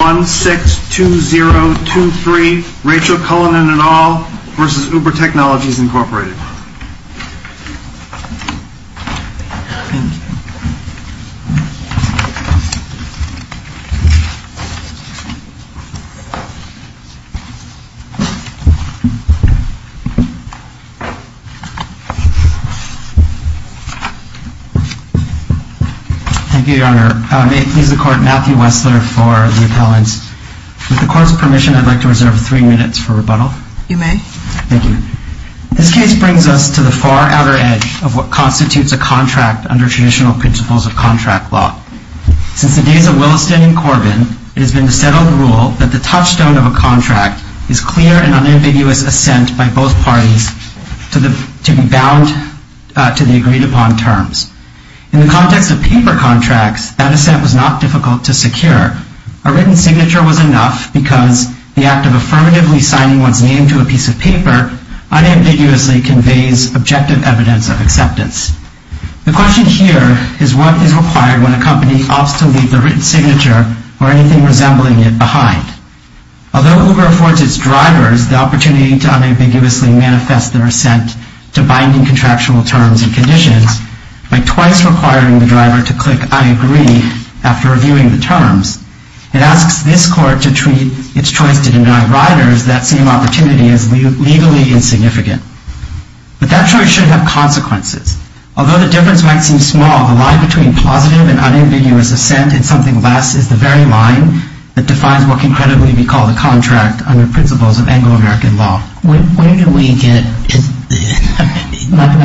162023, Rachel Cullinane et al. v. Uber Technologies, Inc. Thank you, Your Honor. May it please the Court, Matthew Wessler for the appellants. With the Court's permission, I'd like to reserve three minutes for rebuttal. You may. This case brings us to the far outer edge of what constitutes a contract under traditional principles of contract law. Since the days of Williston and Corbin, it has been the settled rule that the touchstone of a contract is clear and unambiguous assent by both parties to be bound to the agreed-upon terms. In the context of paper contracts, that assent was not difficult to secure. A written signature was enough because the act of affirmatively signing one's name to a piece of paper unambiguously conveys objective evidence of acceptance. The question here is what is required when a company opts to leave the written signature or anything resembling it behind. Although Uber affords its drivers the opportunity to unambiguously manifest their assent to binding contractual terms and conditions, by twice requiring the driver to click I agree after reviewing the terms, it asks this Court to treat its choice to deny riders that same opportunity as legally insignificant. But that choice should have consequences. Although the difference might seem small, the line between positive and unambiguous assent in something less is the very line that defines what can credibly be called a contract under principles of Anglo-American law. My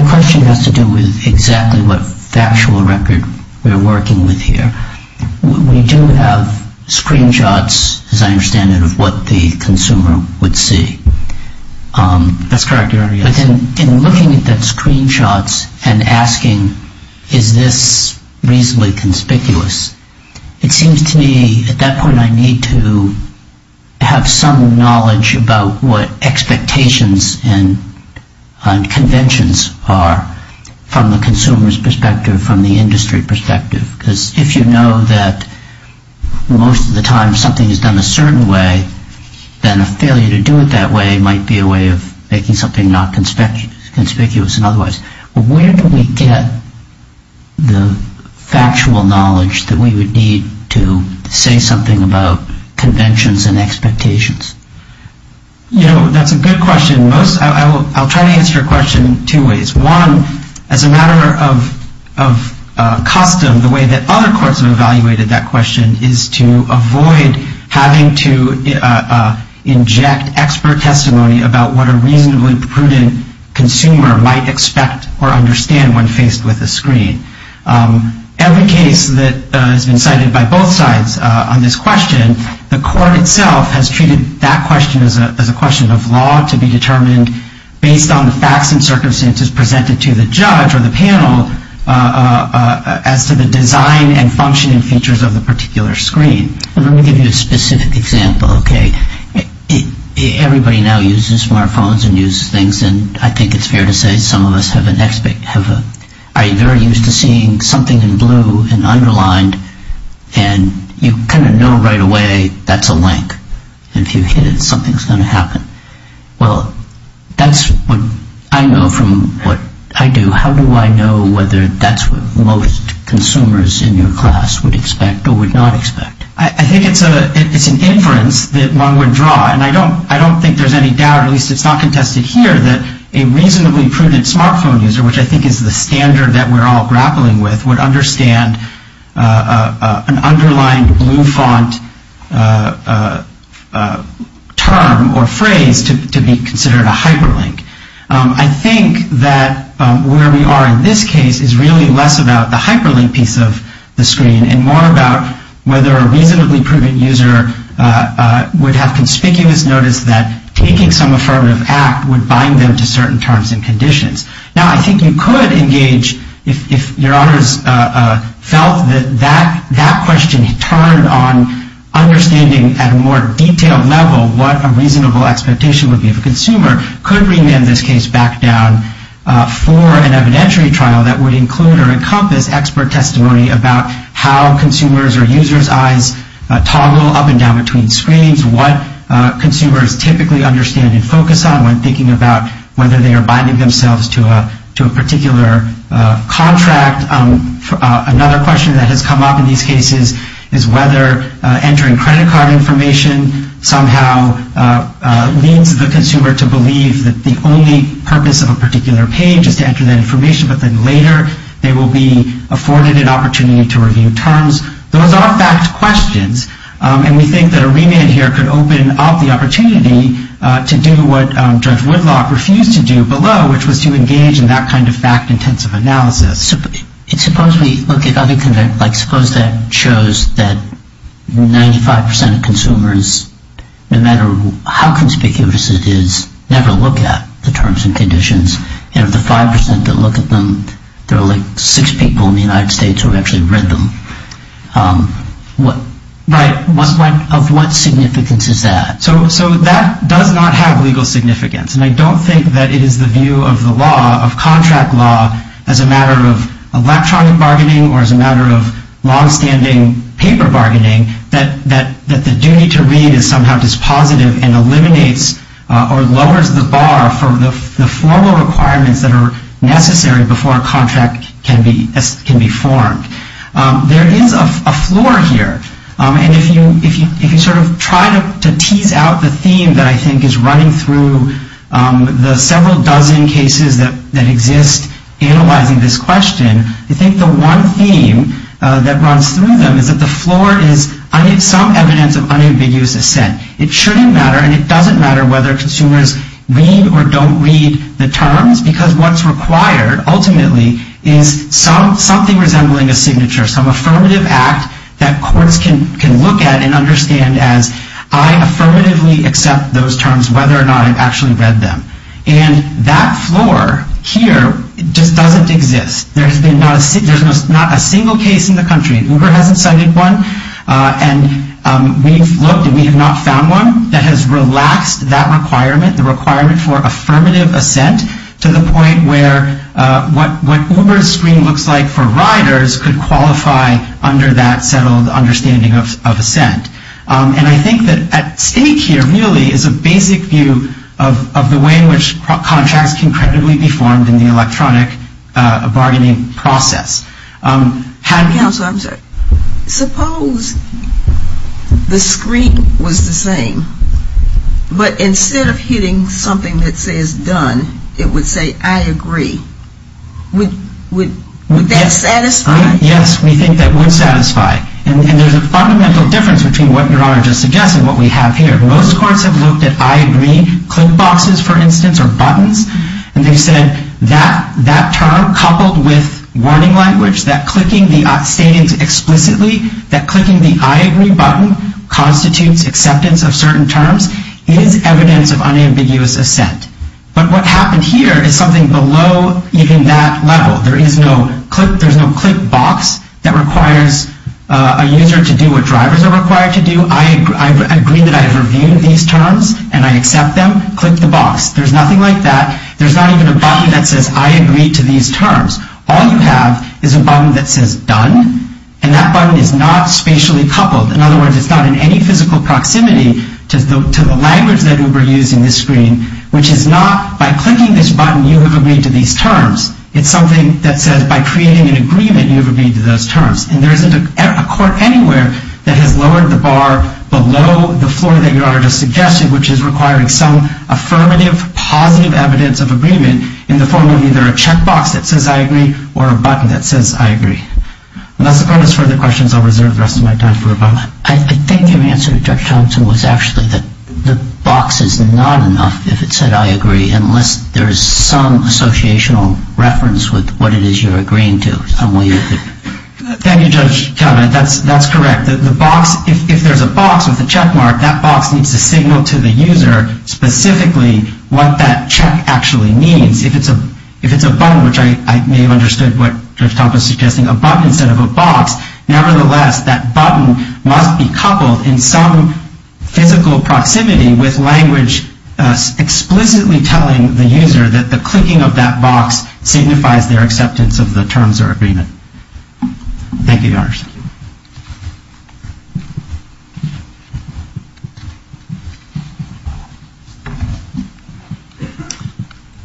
question has to do with exactly what factual record we're working with here. We do have screenshots, as I understand it, of what the consumer would see. That's correct. In looking at the screenshots and asking is this reasonably conspicuous, it seems to me at that point I need to have some knowledge about what expectations and conventions are from the consumer's perspective, from the industry perspective. Because if you know that most of the time something is done a certain way, then a failure to do it that way might be a way of making something not conspicuous in other ways. Where do we get the factual knowledge that we would need to say something about conventions and expectations? You know, that's a good question. I'll try to answer your question two ways. One, as a matter of custom, the way that other courts have evaluated that question is to avoid having to inject expert testimony about what a reasonably prudent consumer might expect or understand when faced with a screen. Every case that has been cited by both sides on this question, the court itself has treated that question as a question of law to be determined based on the facts and circumstances presented to the judge or the panel as to the design and functioning features of the particular screen. Let me give you a specific example, okay. Everybody now uses smart phones and uses things, and I think it's fair to say some of us have an expectation. Are you very used to seeing something in blue and underlined, and you kind of know right away that's a link. If you hit it, something's going to happen. Well, that's what I know from what I do. How do I know whether that's what most consumers in your class would expect or would not expect? I think it's an inference that one would draw, and I don't think there's any doubt, at least it's not contested here, that a reasonably prudent smart phone user, which I think is the standard that we're all grappling with, would understand an underlined blue font term or phrase to be considered a hyperlink. I think that where we are in this case is really less about the hyperlink piece of the screen and more about whether a reasonably prudent user would have conspicuous notice that taking some affirmative act would bind them to certain terms and conditions. Now, I think you could engage if your honors felt that that question turned on understanding at a more detailed level what a reasonable expectation would be. If a consumer could remand this case back down for an evidentiary trial that would include or encompass expert testimony about how consumers' or users' eyes toggle up and down between screens, what consumers typically understand and focus on when thinking about whether they are binding themselves to a particular contract. Another question that has come up in these cases is whether entering credit card information somehow leads the consumer to believe that the only purpose of a particular page is to enter that information, but then later they will be afforded an opportunity to review terms. Those are fact questions, and we think that a remand here could open up the opportunity to do what Judge Whitlock refused to do below, which was to engage in that kind of fact-intensive analysis. Suppose that shows that 95% of consumers, no matter how conspicuous it is, never look at the terms and conditions, and of the 5% that look at them, there are like six people in the United States who have actually read them. Right. Of what significance is that? So that does not have legal significance, and I don't think that it is the view of the law, of contract law, as a matter of electronic bargaining or as a matter of long-standing paper bargaining, that the duty to read is somehow dispositive and eliminates or lowers the bar for the formal requirements that are necessary before a contract can be formed. There is a floor here, and if you sort of try to tease out the theme that I think is running through the several dozen cases that exist analyzing this question, I think the one theme that runs through them is that the floor is some evidence of unambiguous assent. It shouldn't matter, and it doesn't matter whether consumers read or don't read the terms, because what's required ultimately is something resembling a signature, some affirmative act that courts can look at and understand as, I affirmatively accept those terms whether or not I've actually read them. And that floor here just doesn't exist. There's not a single case in the country, Uber hasn't cited one, and we've looked and we have not found one that has relaxed that requirement, the requirement for affirmative assent to the point where what Uber's screen looks like for riders could qualify under that settled understanding of assent. And I think that at stake here really is a basic view of the way in which contracts can credibly be formed in the electronic bargaining process. Counsel, I'm sorry. Suppose the screen was the same, but instead of hitting something that says done, it would say I agree. Would that satisfy? Yes, we think that would satisfy. And there's a fundamental difference between what Your Honor just suggested and what we have here. Most courts have looked at I agree click boxes, for instance, or buttons, and they've said that term coupled with warning language, that clicking the stating explicitly, that clicking the I agree button constitutes acceptance of certain terms, is evidence of unambiguous assent. But what happened here is something below even that level. There is no click box that requires a user to do what drivers are required to do. I agree that I've reviewed these terms and I accept them, click the box. There's nothing like that. There's not even a button that says I agree to these terms. All you have is a button that says done, and that button is not spatially coupled. In other words, it's not in any physical proximity to the language that Uber used in this screen, which is not by clicking this button you have agreed to these terms. It's something that says by creating an agreement you have agreed to those terms. And there isn't a court anywhere that has lowered the bar below the floor that Your Honor just suggested, which is requiring some affirmative, positive evidence of agreement in the form of either a check box that says I agree or a button that says I agree. Unless the court has further questions, I'll reserve the rest of my time for rebuttal. I think your answer, Judge Thompson, was actually that the box is not enough if it said I agree, unless there is some associational reference with what it is you're agreeing to. Thank you, Judge Kellman. That's correct. If there's a box with a check mark, that box needs to signal to the user specifically what that check actually means. If it's a button, which I may have understood what Judge Thompson is suggesting, a button instead of a box, nevertheless that button must be coupled in some physical proximity with language explicitly telling the user that the clicking of that box signifies their acceptance of the terms or agreement. Thank you, Your Honor.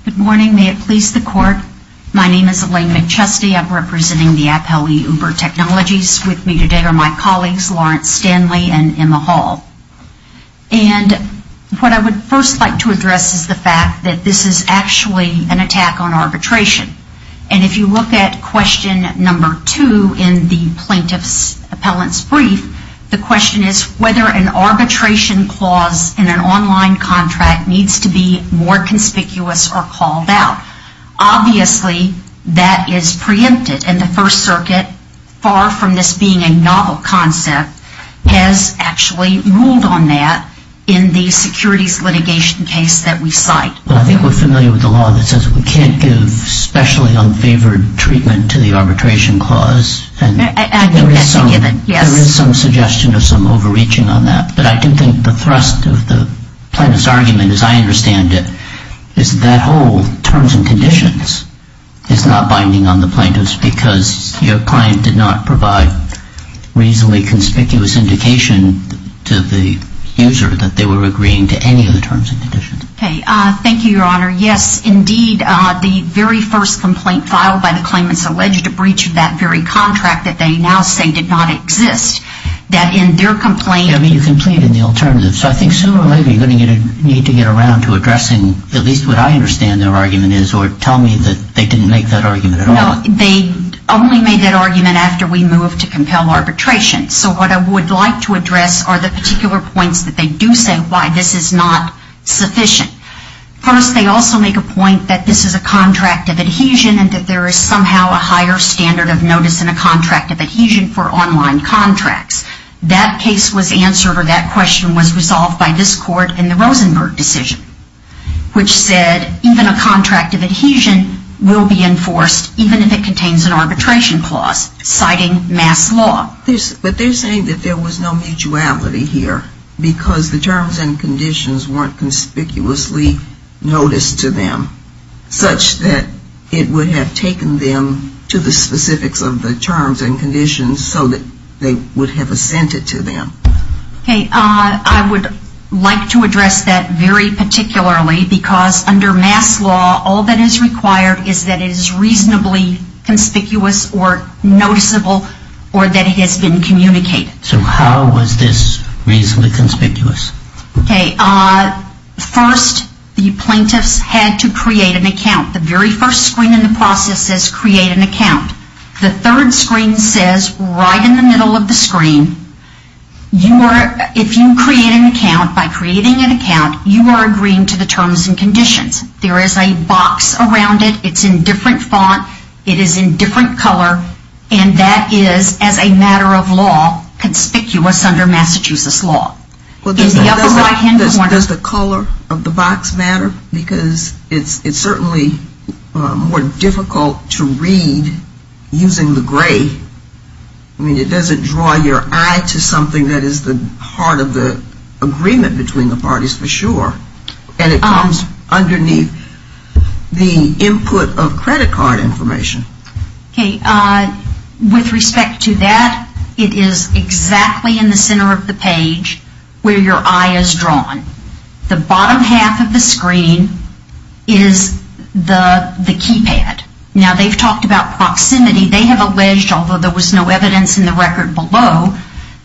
Good morning. May it please the Court. My name is Elaine McChesty. I'm representing the Appellee Uber Technologies. With me today are my colleagues, Lawrence Stanley and Emma Hall. And what I would first like to address is the fact that this is actually an attack on arbitration. And if you look at question number two in the plaintiff's appellant's brief, the question is whether an arbitration clause in an online contract needs to be more conspicuous or called out. Obviously, that is preempted. And the First Circuit, far from this being a novel concept, has actually ruled on that in the securities litigation case that we cite. Well, I think we're familiar with the law that says we can't give specially unfavored treatment to the arbitration clause. I think that's a given, yes. There is some suggestion of some overreaching on that. But I do think the thrust of the plaintiff's argument, as I understand it, is that whole terms and conditions is not binding on the plaintiff's because your client did not provide reasonably conspicuous indication to the user that they were agreeing to any of the terms and conditions. Okay. Thank you, Your Honor. Yes, indeed, the very first complaint filed by the claimants alleged to breach that very contract that they now say did not exist, that in their complaint... I mean, you complained in the alternative. So I think sooner or later you're going to need to get around to addressing at least what I understand their argument is or tell me that they didn't make that argument at all. No. They only made that argument after we moved to compel arbitration. So what I would like to address are the particular points that they do say why this is not sufficient. First, they also make a point that this is a contract of adhesion and that there is somehow a higher standard of notice in a contract of adhesion for online contracts. That case was answered or that question was resolved by this Court in the Rosenberg decision, which said even a contract of adhesion will be enforced even if it contains an arbitration clause, citing mass law. But they're saying that there was no mutuality here because the terms and conditions weren't conspicuously noticed to them, such that it would have taken them to the specifics of the terms and conditions so that they would have assented to them. Okay. I would like to address that very particularly because under mass law, all that is required is that it is reasonably conspicuous or noticeable or that it has been communicated. So how was this reasonably conspicuous? Okay. First, the plaintiffs had to create an account. The very first screen in the process says create an account. The third screen says right in the middle of the screen, if you create an account, by creating an account, you are agreeing to the terms and conditions. There is a box around it. It's in different font. It is in different color. And that is, as a matter of law, conspicuous under Massachusetts law. Does the color of the box matter? Because it's certainly more difficult to read using the gray. I mean, it doesn't draw your eye to something that is the heart of the agreement between the parties for sure. And it comes underneath the input of credit card information. Okay. With respect to that, it is exactly in the center of the page where your eye is drawn. The bottom half of the screen is the keypad. Now, they've talked about proximity. They have alleged, although there was no evidence in the record below,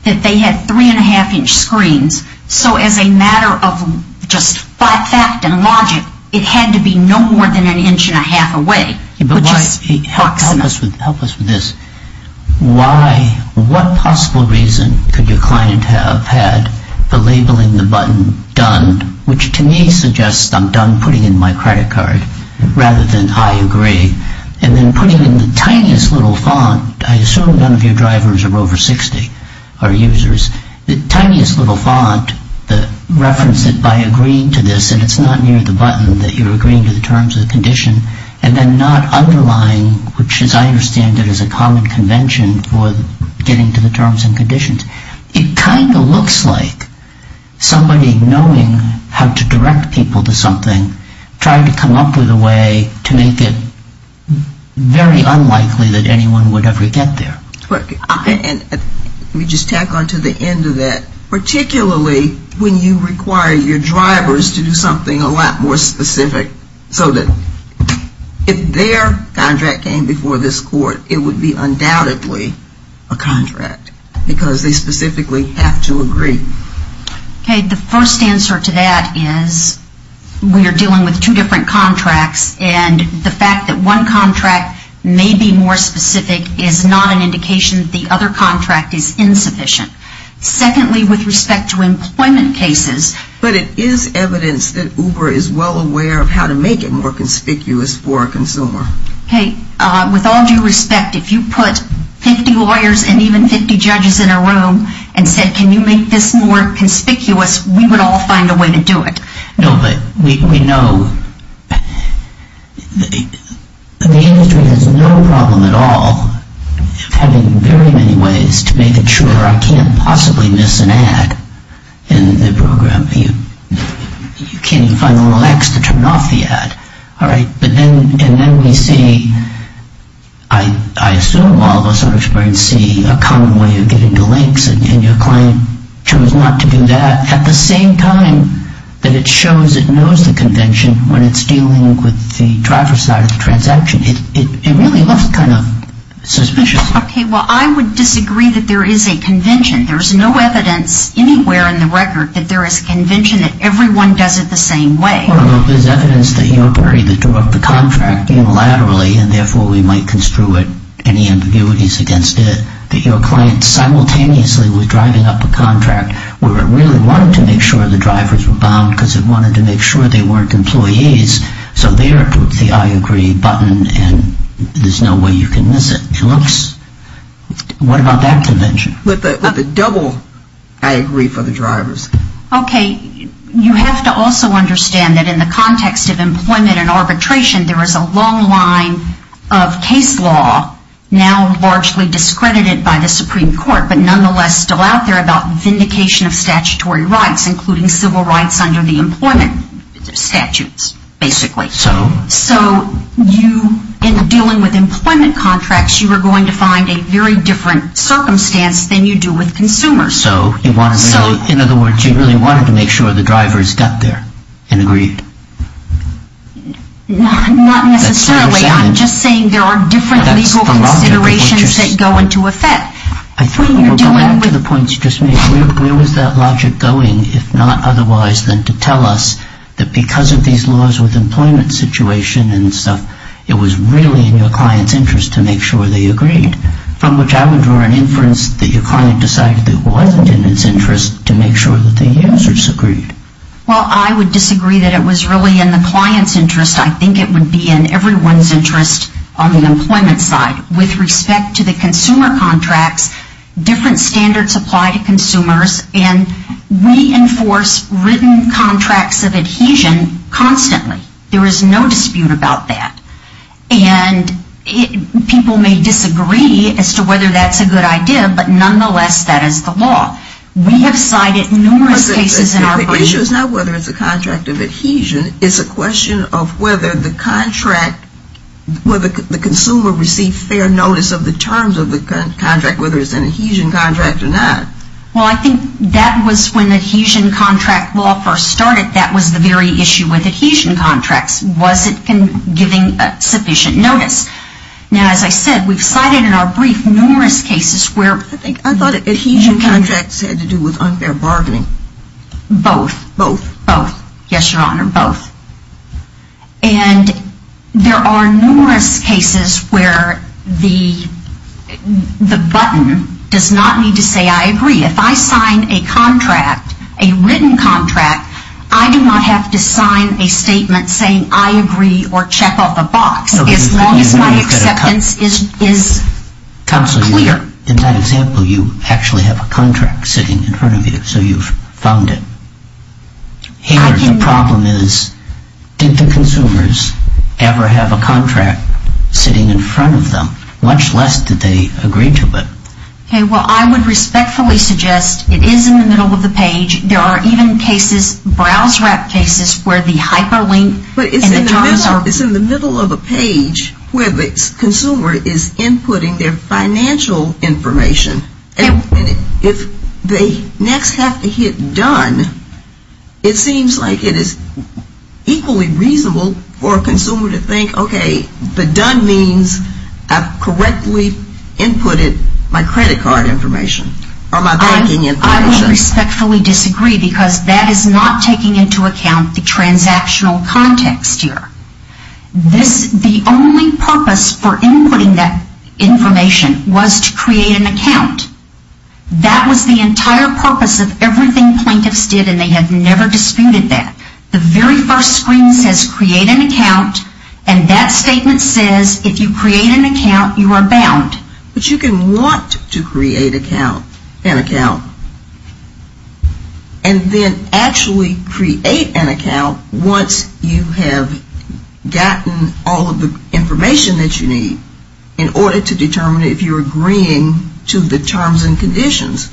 that they had three and a half inch screens. So as a matter of just fact and logic, it had to be no more than an inch and a half away. Help us with this. What possible reason could your client have had for labeling the button done, which to me suggests I'm done putting in my credit card rather than I agree, and then putting in the tiniest little font. I assume none of your drivers are over 60 or users. The tiniest little font, the reference that by agreeing to this, and it's not near the button that you're agreeing to the terms of the condition, and then not underlying, which as I understand it is a common convention for getting to the terms and conditions. It kind of looks like somebody knowing how to direct people to something, trying to come up with a way to make it very unlikely that anyone would ever get there. Let me just tack on to the end of that. Particularly when you require your drivers to do something a lot more specific, so that if their contract came before this court, it would be undoubtedly a contract, because they specifically have to agree. The first answer to that is we are dealing with two different contracts, and the fact that one contract may be more specific is not an indication that the other contract is insufficient. Secondly, with respect to employment cases. But it is evidence that Uber is well aware of how to make it more conspicuous for a consumer. With all due respect, if you put 50 lawyers and even 50 judges in a room and said, can you make this more conspicuous, we would all find a way to do it. No, but we know that the industry has no problem at all having very many ways to make it sure I can't possibly miss an ad in the program. You can't even find the little X to turn off the ad. All right, but then we see, I assume all of us on experience see, a common way of getting to links, and your client chose not to do that. At the same time that it shows it knows the convention when it's dealing with the driver side of the transaction, it really looks kind of suspicious. Okay, well, I would disagree that there is a convention. There's no evidence anywhere in the record that there is a convention that everyone does it the same way. Well, there's evidence that your party that drew up the contract unilaterally, and therefore we might construe it, any ambiguities against it, that your client simultaneously was driving up a contract where it really wanted to make sure the drivers were bound because it wanted to make sure they weren't employees, so there it puts the I agree button and there's no way you can miss it. What about that convention? With a double I agree for the drivers. Okay, you have to also understand that in the context of employment and arbitration, there is a long line of case law now largely discredited by the Supreme Court, but nonetheless still out there about vindication of statutory rights, including civil rights under the employment statutes, basically. So? So you, in dealing with employment contracts, you are going to find a very different circumstance than you do with consumers. So, in other words, you really wanted to make sure the drivers got there and agreed? Not necessarily. I'm just saying there are different legal considerations that go into effect. I think we're going to the points you just made. Where was that logic going, if not otherwise, than to tell us that because of these laws with employment situation and stuff, it was really in your client's interest to make sure they agreed, from which I would draw an inference that your client decided it wasn't in its interest to make sure that the users agreed. Well, I would disagree that it was really in the client's interest. I think it would be in everyone's interest on the employment side. With respect to the consumer contracts, different standards apply to consumers, and we enforce written contracts of adhesion constantly. There is no dispute about that. And people may disagree as to whether that's a good idea, but nonetheless, that is the law. We have cited numerous cases in our brief. The issue is not whether it's a contract of adhesion. It's a question of whether the contract, whether the consumer received fair notice of the terms of the contract, whether it's an adhesion contract or not. Well, I think that was when adhesion contract law first started, that was the very issue with adhesion contracts. Was it giving sufficient notice? Now, as I said, we've cited in our brief numerous cases where I thought adhesion contracts had to do with unfair bargaining. Both. Both. Yes, Your Honor, both. And there are numerous cases where the button does not need to say I agree. If I sign a contract, a written contract, I do not have to sign a statement saying I agree or check off a box as long as my acceptance is clear. Counsel, in that example, you actually have a contract sitting in front of you. So you've found it. The problem is did the consumers ever have a contract sitting in front of them? Much less did they agree to it. Okay, well, I would respectfully suggest it is in the middle of the page. There are even cases, browse-wrap cases, where the hyperlink and the JavaScript It's in the middle of a page where the consumer is inputting their financial information. And if they next have to hit done, it seems like it is equally reasonable for a consumer to think, okay, the done means I've correctly inputted my credit card information or my banking information. I would respectfully disagree because that is not taking into account the transactional context here. The only purpose for inputting that information was to create an account. That was the entire purpose of everything plaintiffs did, and they have never disputed that. The very first screen says create an account. And that statement says if you create an account, you are bound. But you can want to create an account and then actually create an account once you have gotten all of the information that you need in order to determine if you're agreeing to the terms and conditions.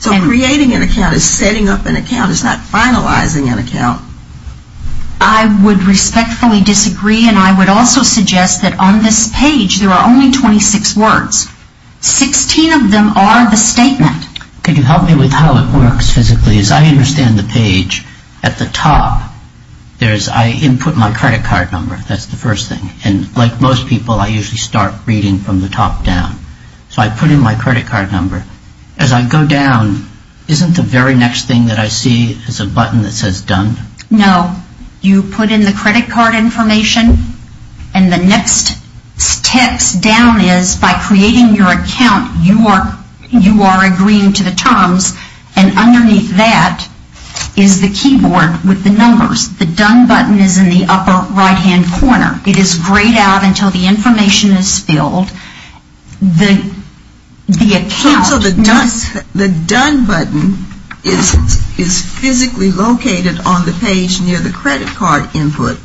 So creating an account is setting up an account. I would respectfully disagree, and I would also suggest that on this page there are only 26 words. 16 of them are the statement. Can you help me with how it works physically? As I understand the page, at the top, I input my credit card number. That's the first thing. And like most people, I usually start reading from the top down. So I put in my credit card number. But as I go down, isn't the very next thing that I see is a button that says done? No. You put in the credit card information, and the next steps down is by creating your account, you are agreeing to the terms, and underneath that is the keyboard with the numbers. The done button is in the upper right-hand corner. It is grayed out until the information is filled. So the done button is physically located on the page near the credit card input.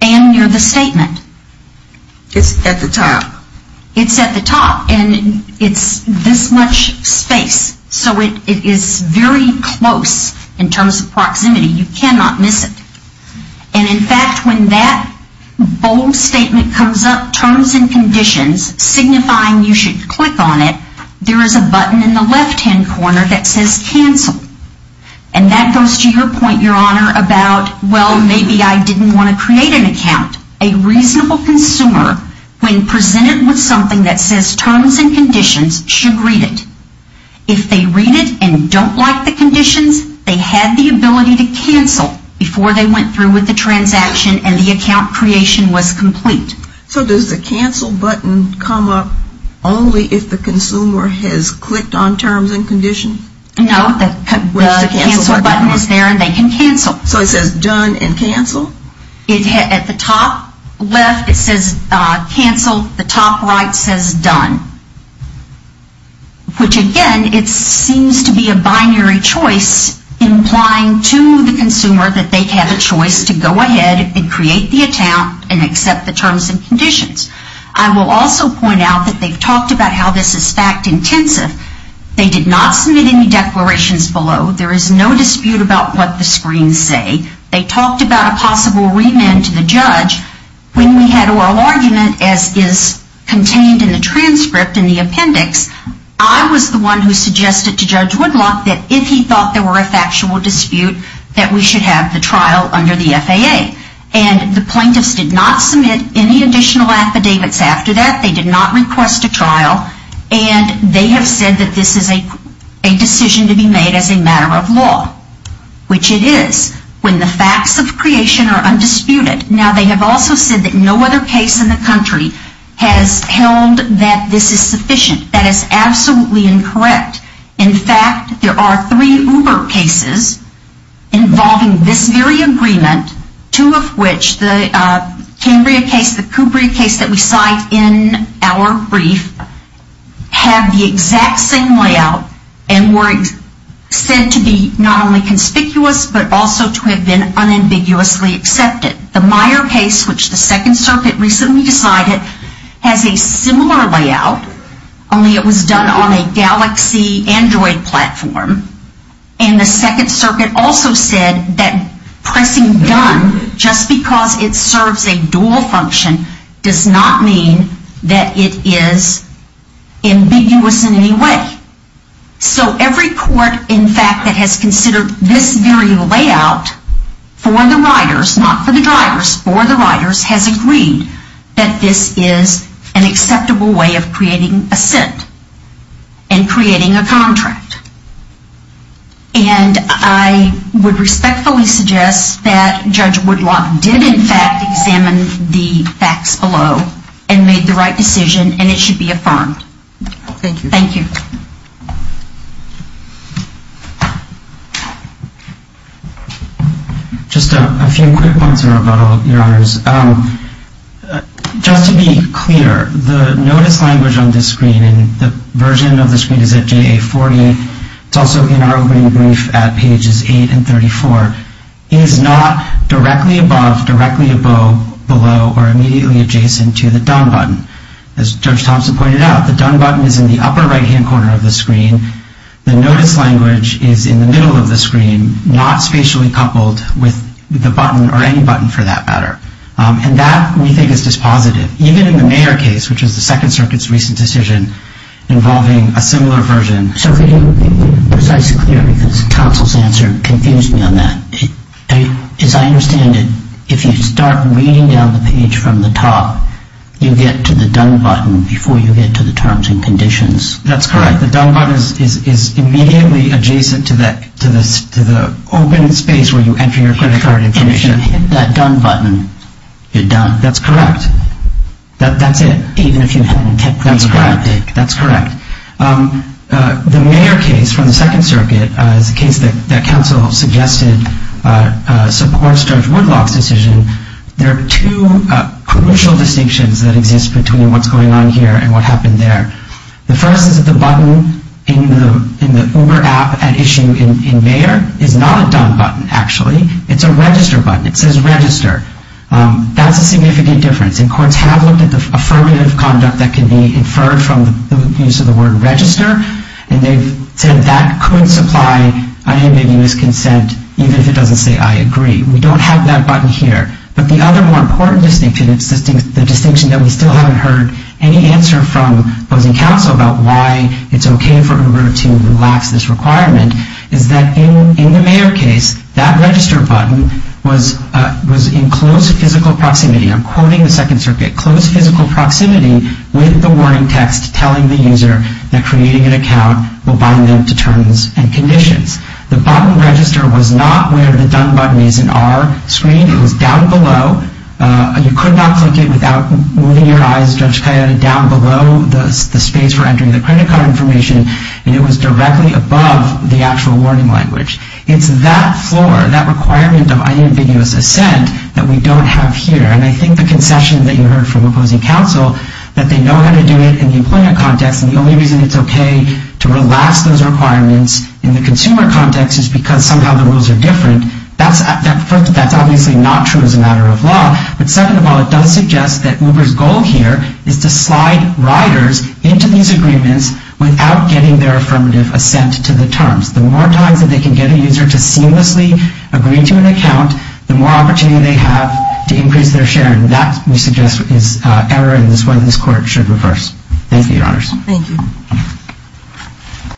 And near the statement. It's at the top. It's at the top, and it's this much space. So it is very close in terms of proximity. You cannot miss it. And in fact, when that bold statement comes up, terms and conditions, signifying you should click on it, there is a button in the left-hand corner that says cancel. And that goes to your point, Your Honor, about, well, maybe I didn't want to create an account. A reasonable consumer, when presented with something that says terms and conditions, should read it. If they read it and don't like the conditions, they had the ability to cancel before they went through with the transaction and the account creation was complete. So does the cancel button come up only if the consumer has clicked on terms and conditions? No, the cancel button is there and they can cancel. So it says done and cancel? At the top left, it says cancel. The top right says done. Which again, it seems to be a binary choice implying to the consumer that they have a choice to go ahead and create the account and accept the terms and conditions. I will also point out that they've talked about how this is fact intensive. They did not submit any declarations below. There is no dispute about what the screens say. They talked about a possible remand to the judge. When we had oral argument, as is contained in the transcript in the appendix, I was the one who suggested to Judge Woodlock that if he thought there were a factual dispute, that we should have the trial under the FAA. And the plaintiffs did not submit any additional affidavits after that. They did not request a trial. And they have said that this is a decision to be made as a matter of law, which it is, when the facts of creation are undisputed. Now, they have also said that no other case in the country has held that this is sufficient. That is absolutely incorrect. In fact, there are three Uber cases involving this very agreement, two of which, the Cambria case, the Kubria case that we cite in our brief, have the exact same layout and were said to be not only conspicuous, but also to have been unambiguously accepted. The Meyer case, which the Second Circuit recently decided, has a similar layout, only it was done on a Galaxy Android platform. And the Second Circuit also said that pressing done, just because it serves a dual function, does not mean that it is ambiguous in any way. So every court, in fact, that has considered this very layout for the riders, not for the drivers, for the riders, has agreed that this is an acceptable way of creating assent and creating a contract. And I would respectfully suggest that Judge Woodlock did, in fact, examine the facts below and made the right decision, and it should be affirmed. Thank you. Thank you. Just a few quick points, Your Honors. Just to be clear, the notice language on this screen, and the version of the screen is at JA40, it's also in our opening brief at pages 8 and 34, is not directly above, directly above, below, or immediately adjacent to the done button. As Judge Thompson pointed out, the done button is in the upper right-hand corner of the screen. The notice language is in the middle of the screen, not spatially coupled with the button, or any button for that matter. And that, we think, is dispositive. Even in the Mayer case, which is the Second Circuit's recent decision involving a similar version. So if we can be precise and clear, because the counsel's answer confused me on that. As I understand it, if you start reading down the page from the top, you get to the done button before you get to the terms and conditions. That's correct. The done button is immediately adjacent to the open space where you enter your credit card information. And if you hit that done button, you're done. That's correct. That's it. Even if you hadn't kept things cryptic. That's correct. The Mayer case from the Second Circuit is a case that counsel suggested supports Judge Woodlock's decision. There are two crucial distinctions that exist between what's going on here and what happened there. The first is that the button in the Uber app at issue in Mayer is not a done button, actually. It's a register button. It says register. That's a significant difference. And courts have looked at the affirmative conduct that can be inferred from the use of the word register. And they've said that could supply unambiguous consent, even if it doesn't say I agree. We don't have that button here. But the other more important distinction, the distinction that we still haven't heard any answer from opposing counsel about why it's okay for Uber to relax this requirement, is that in the Mayer case, that register button was in close physical proximity. I'm quoting the Second Circuit. Close physical proximity with the warning text telling the user that creating an account will bind them to terms and conditions. The button register was not where the done button is in our screen. It was down below. You could not click it without moving your eyes, Judge Cayetta, down below the space for entering the credit card information, and it was directly above the actual warning language. It's that floor, that requirement of unambiguous assent, that we don't have here. And I think the concession that you heard from opposing counsel, that they know how to do it in the employment context, and the only reason it's okay to relax those requirements in the consumer context is because somehow the rules are different. That's obviously not true as a matter of law. But second of all, it does suggest that Uber's goal here is to slide riders into these agreements without getting their affirmative assent to the terms. The more times that they can get a user to seamlessly agree to an account, the more opportunity they have to increase their share. And that, we suggest, is error, and is why this Court should reverse. Thank you, Your Honors. Thank you.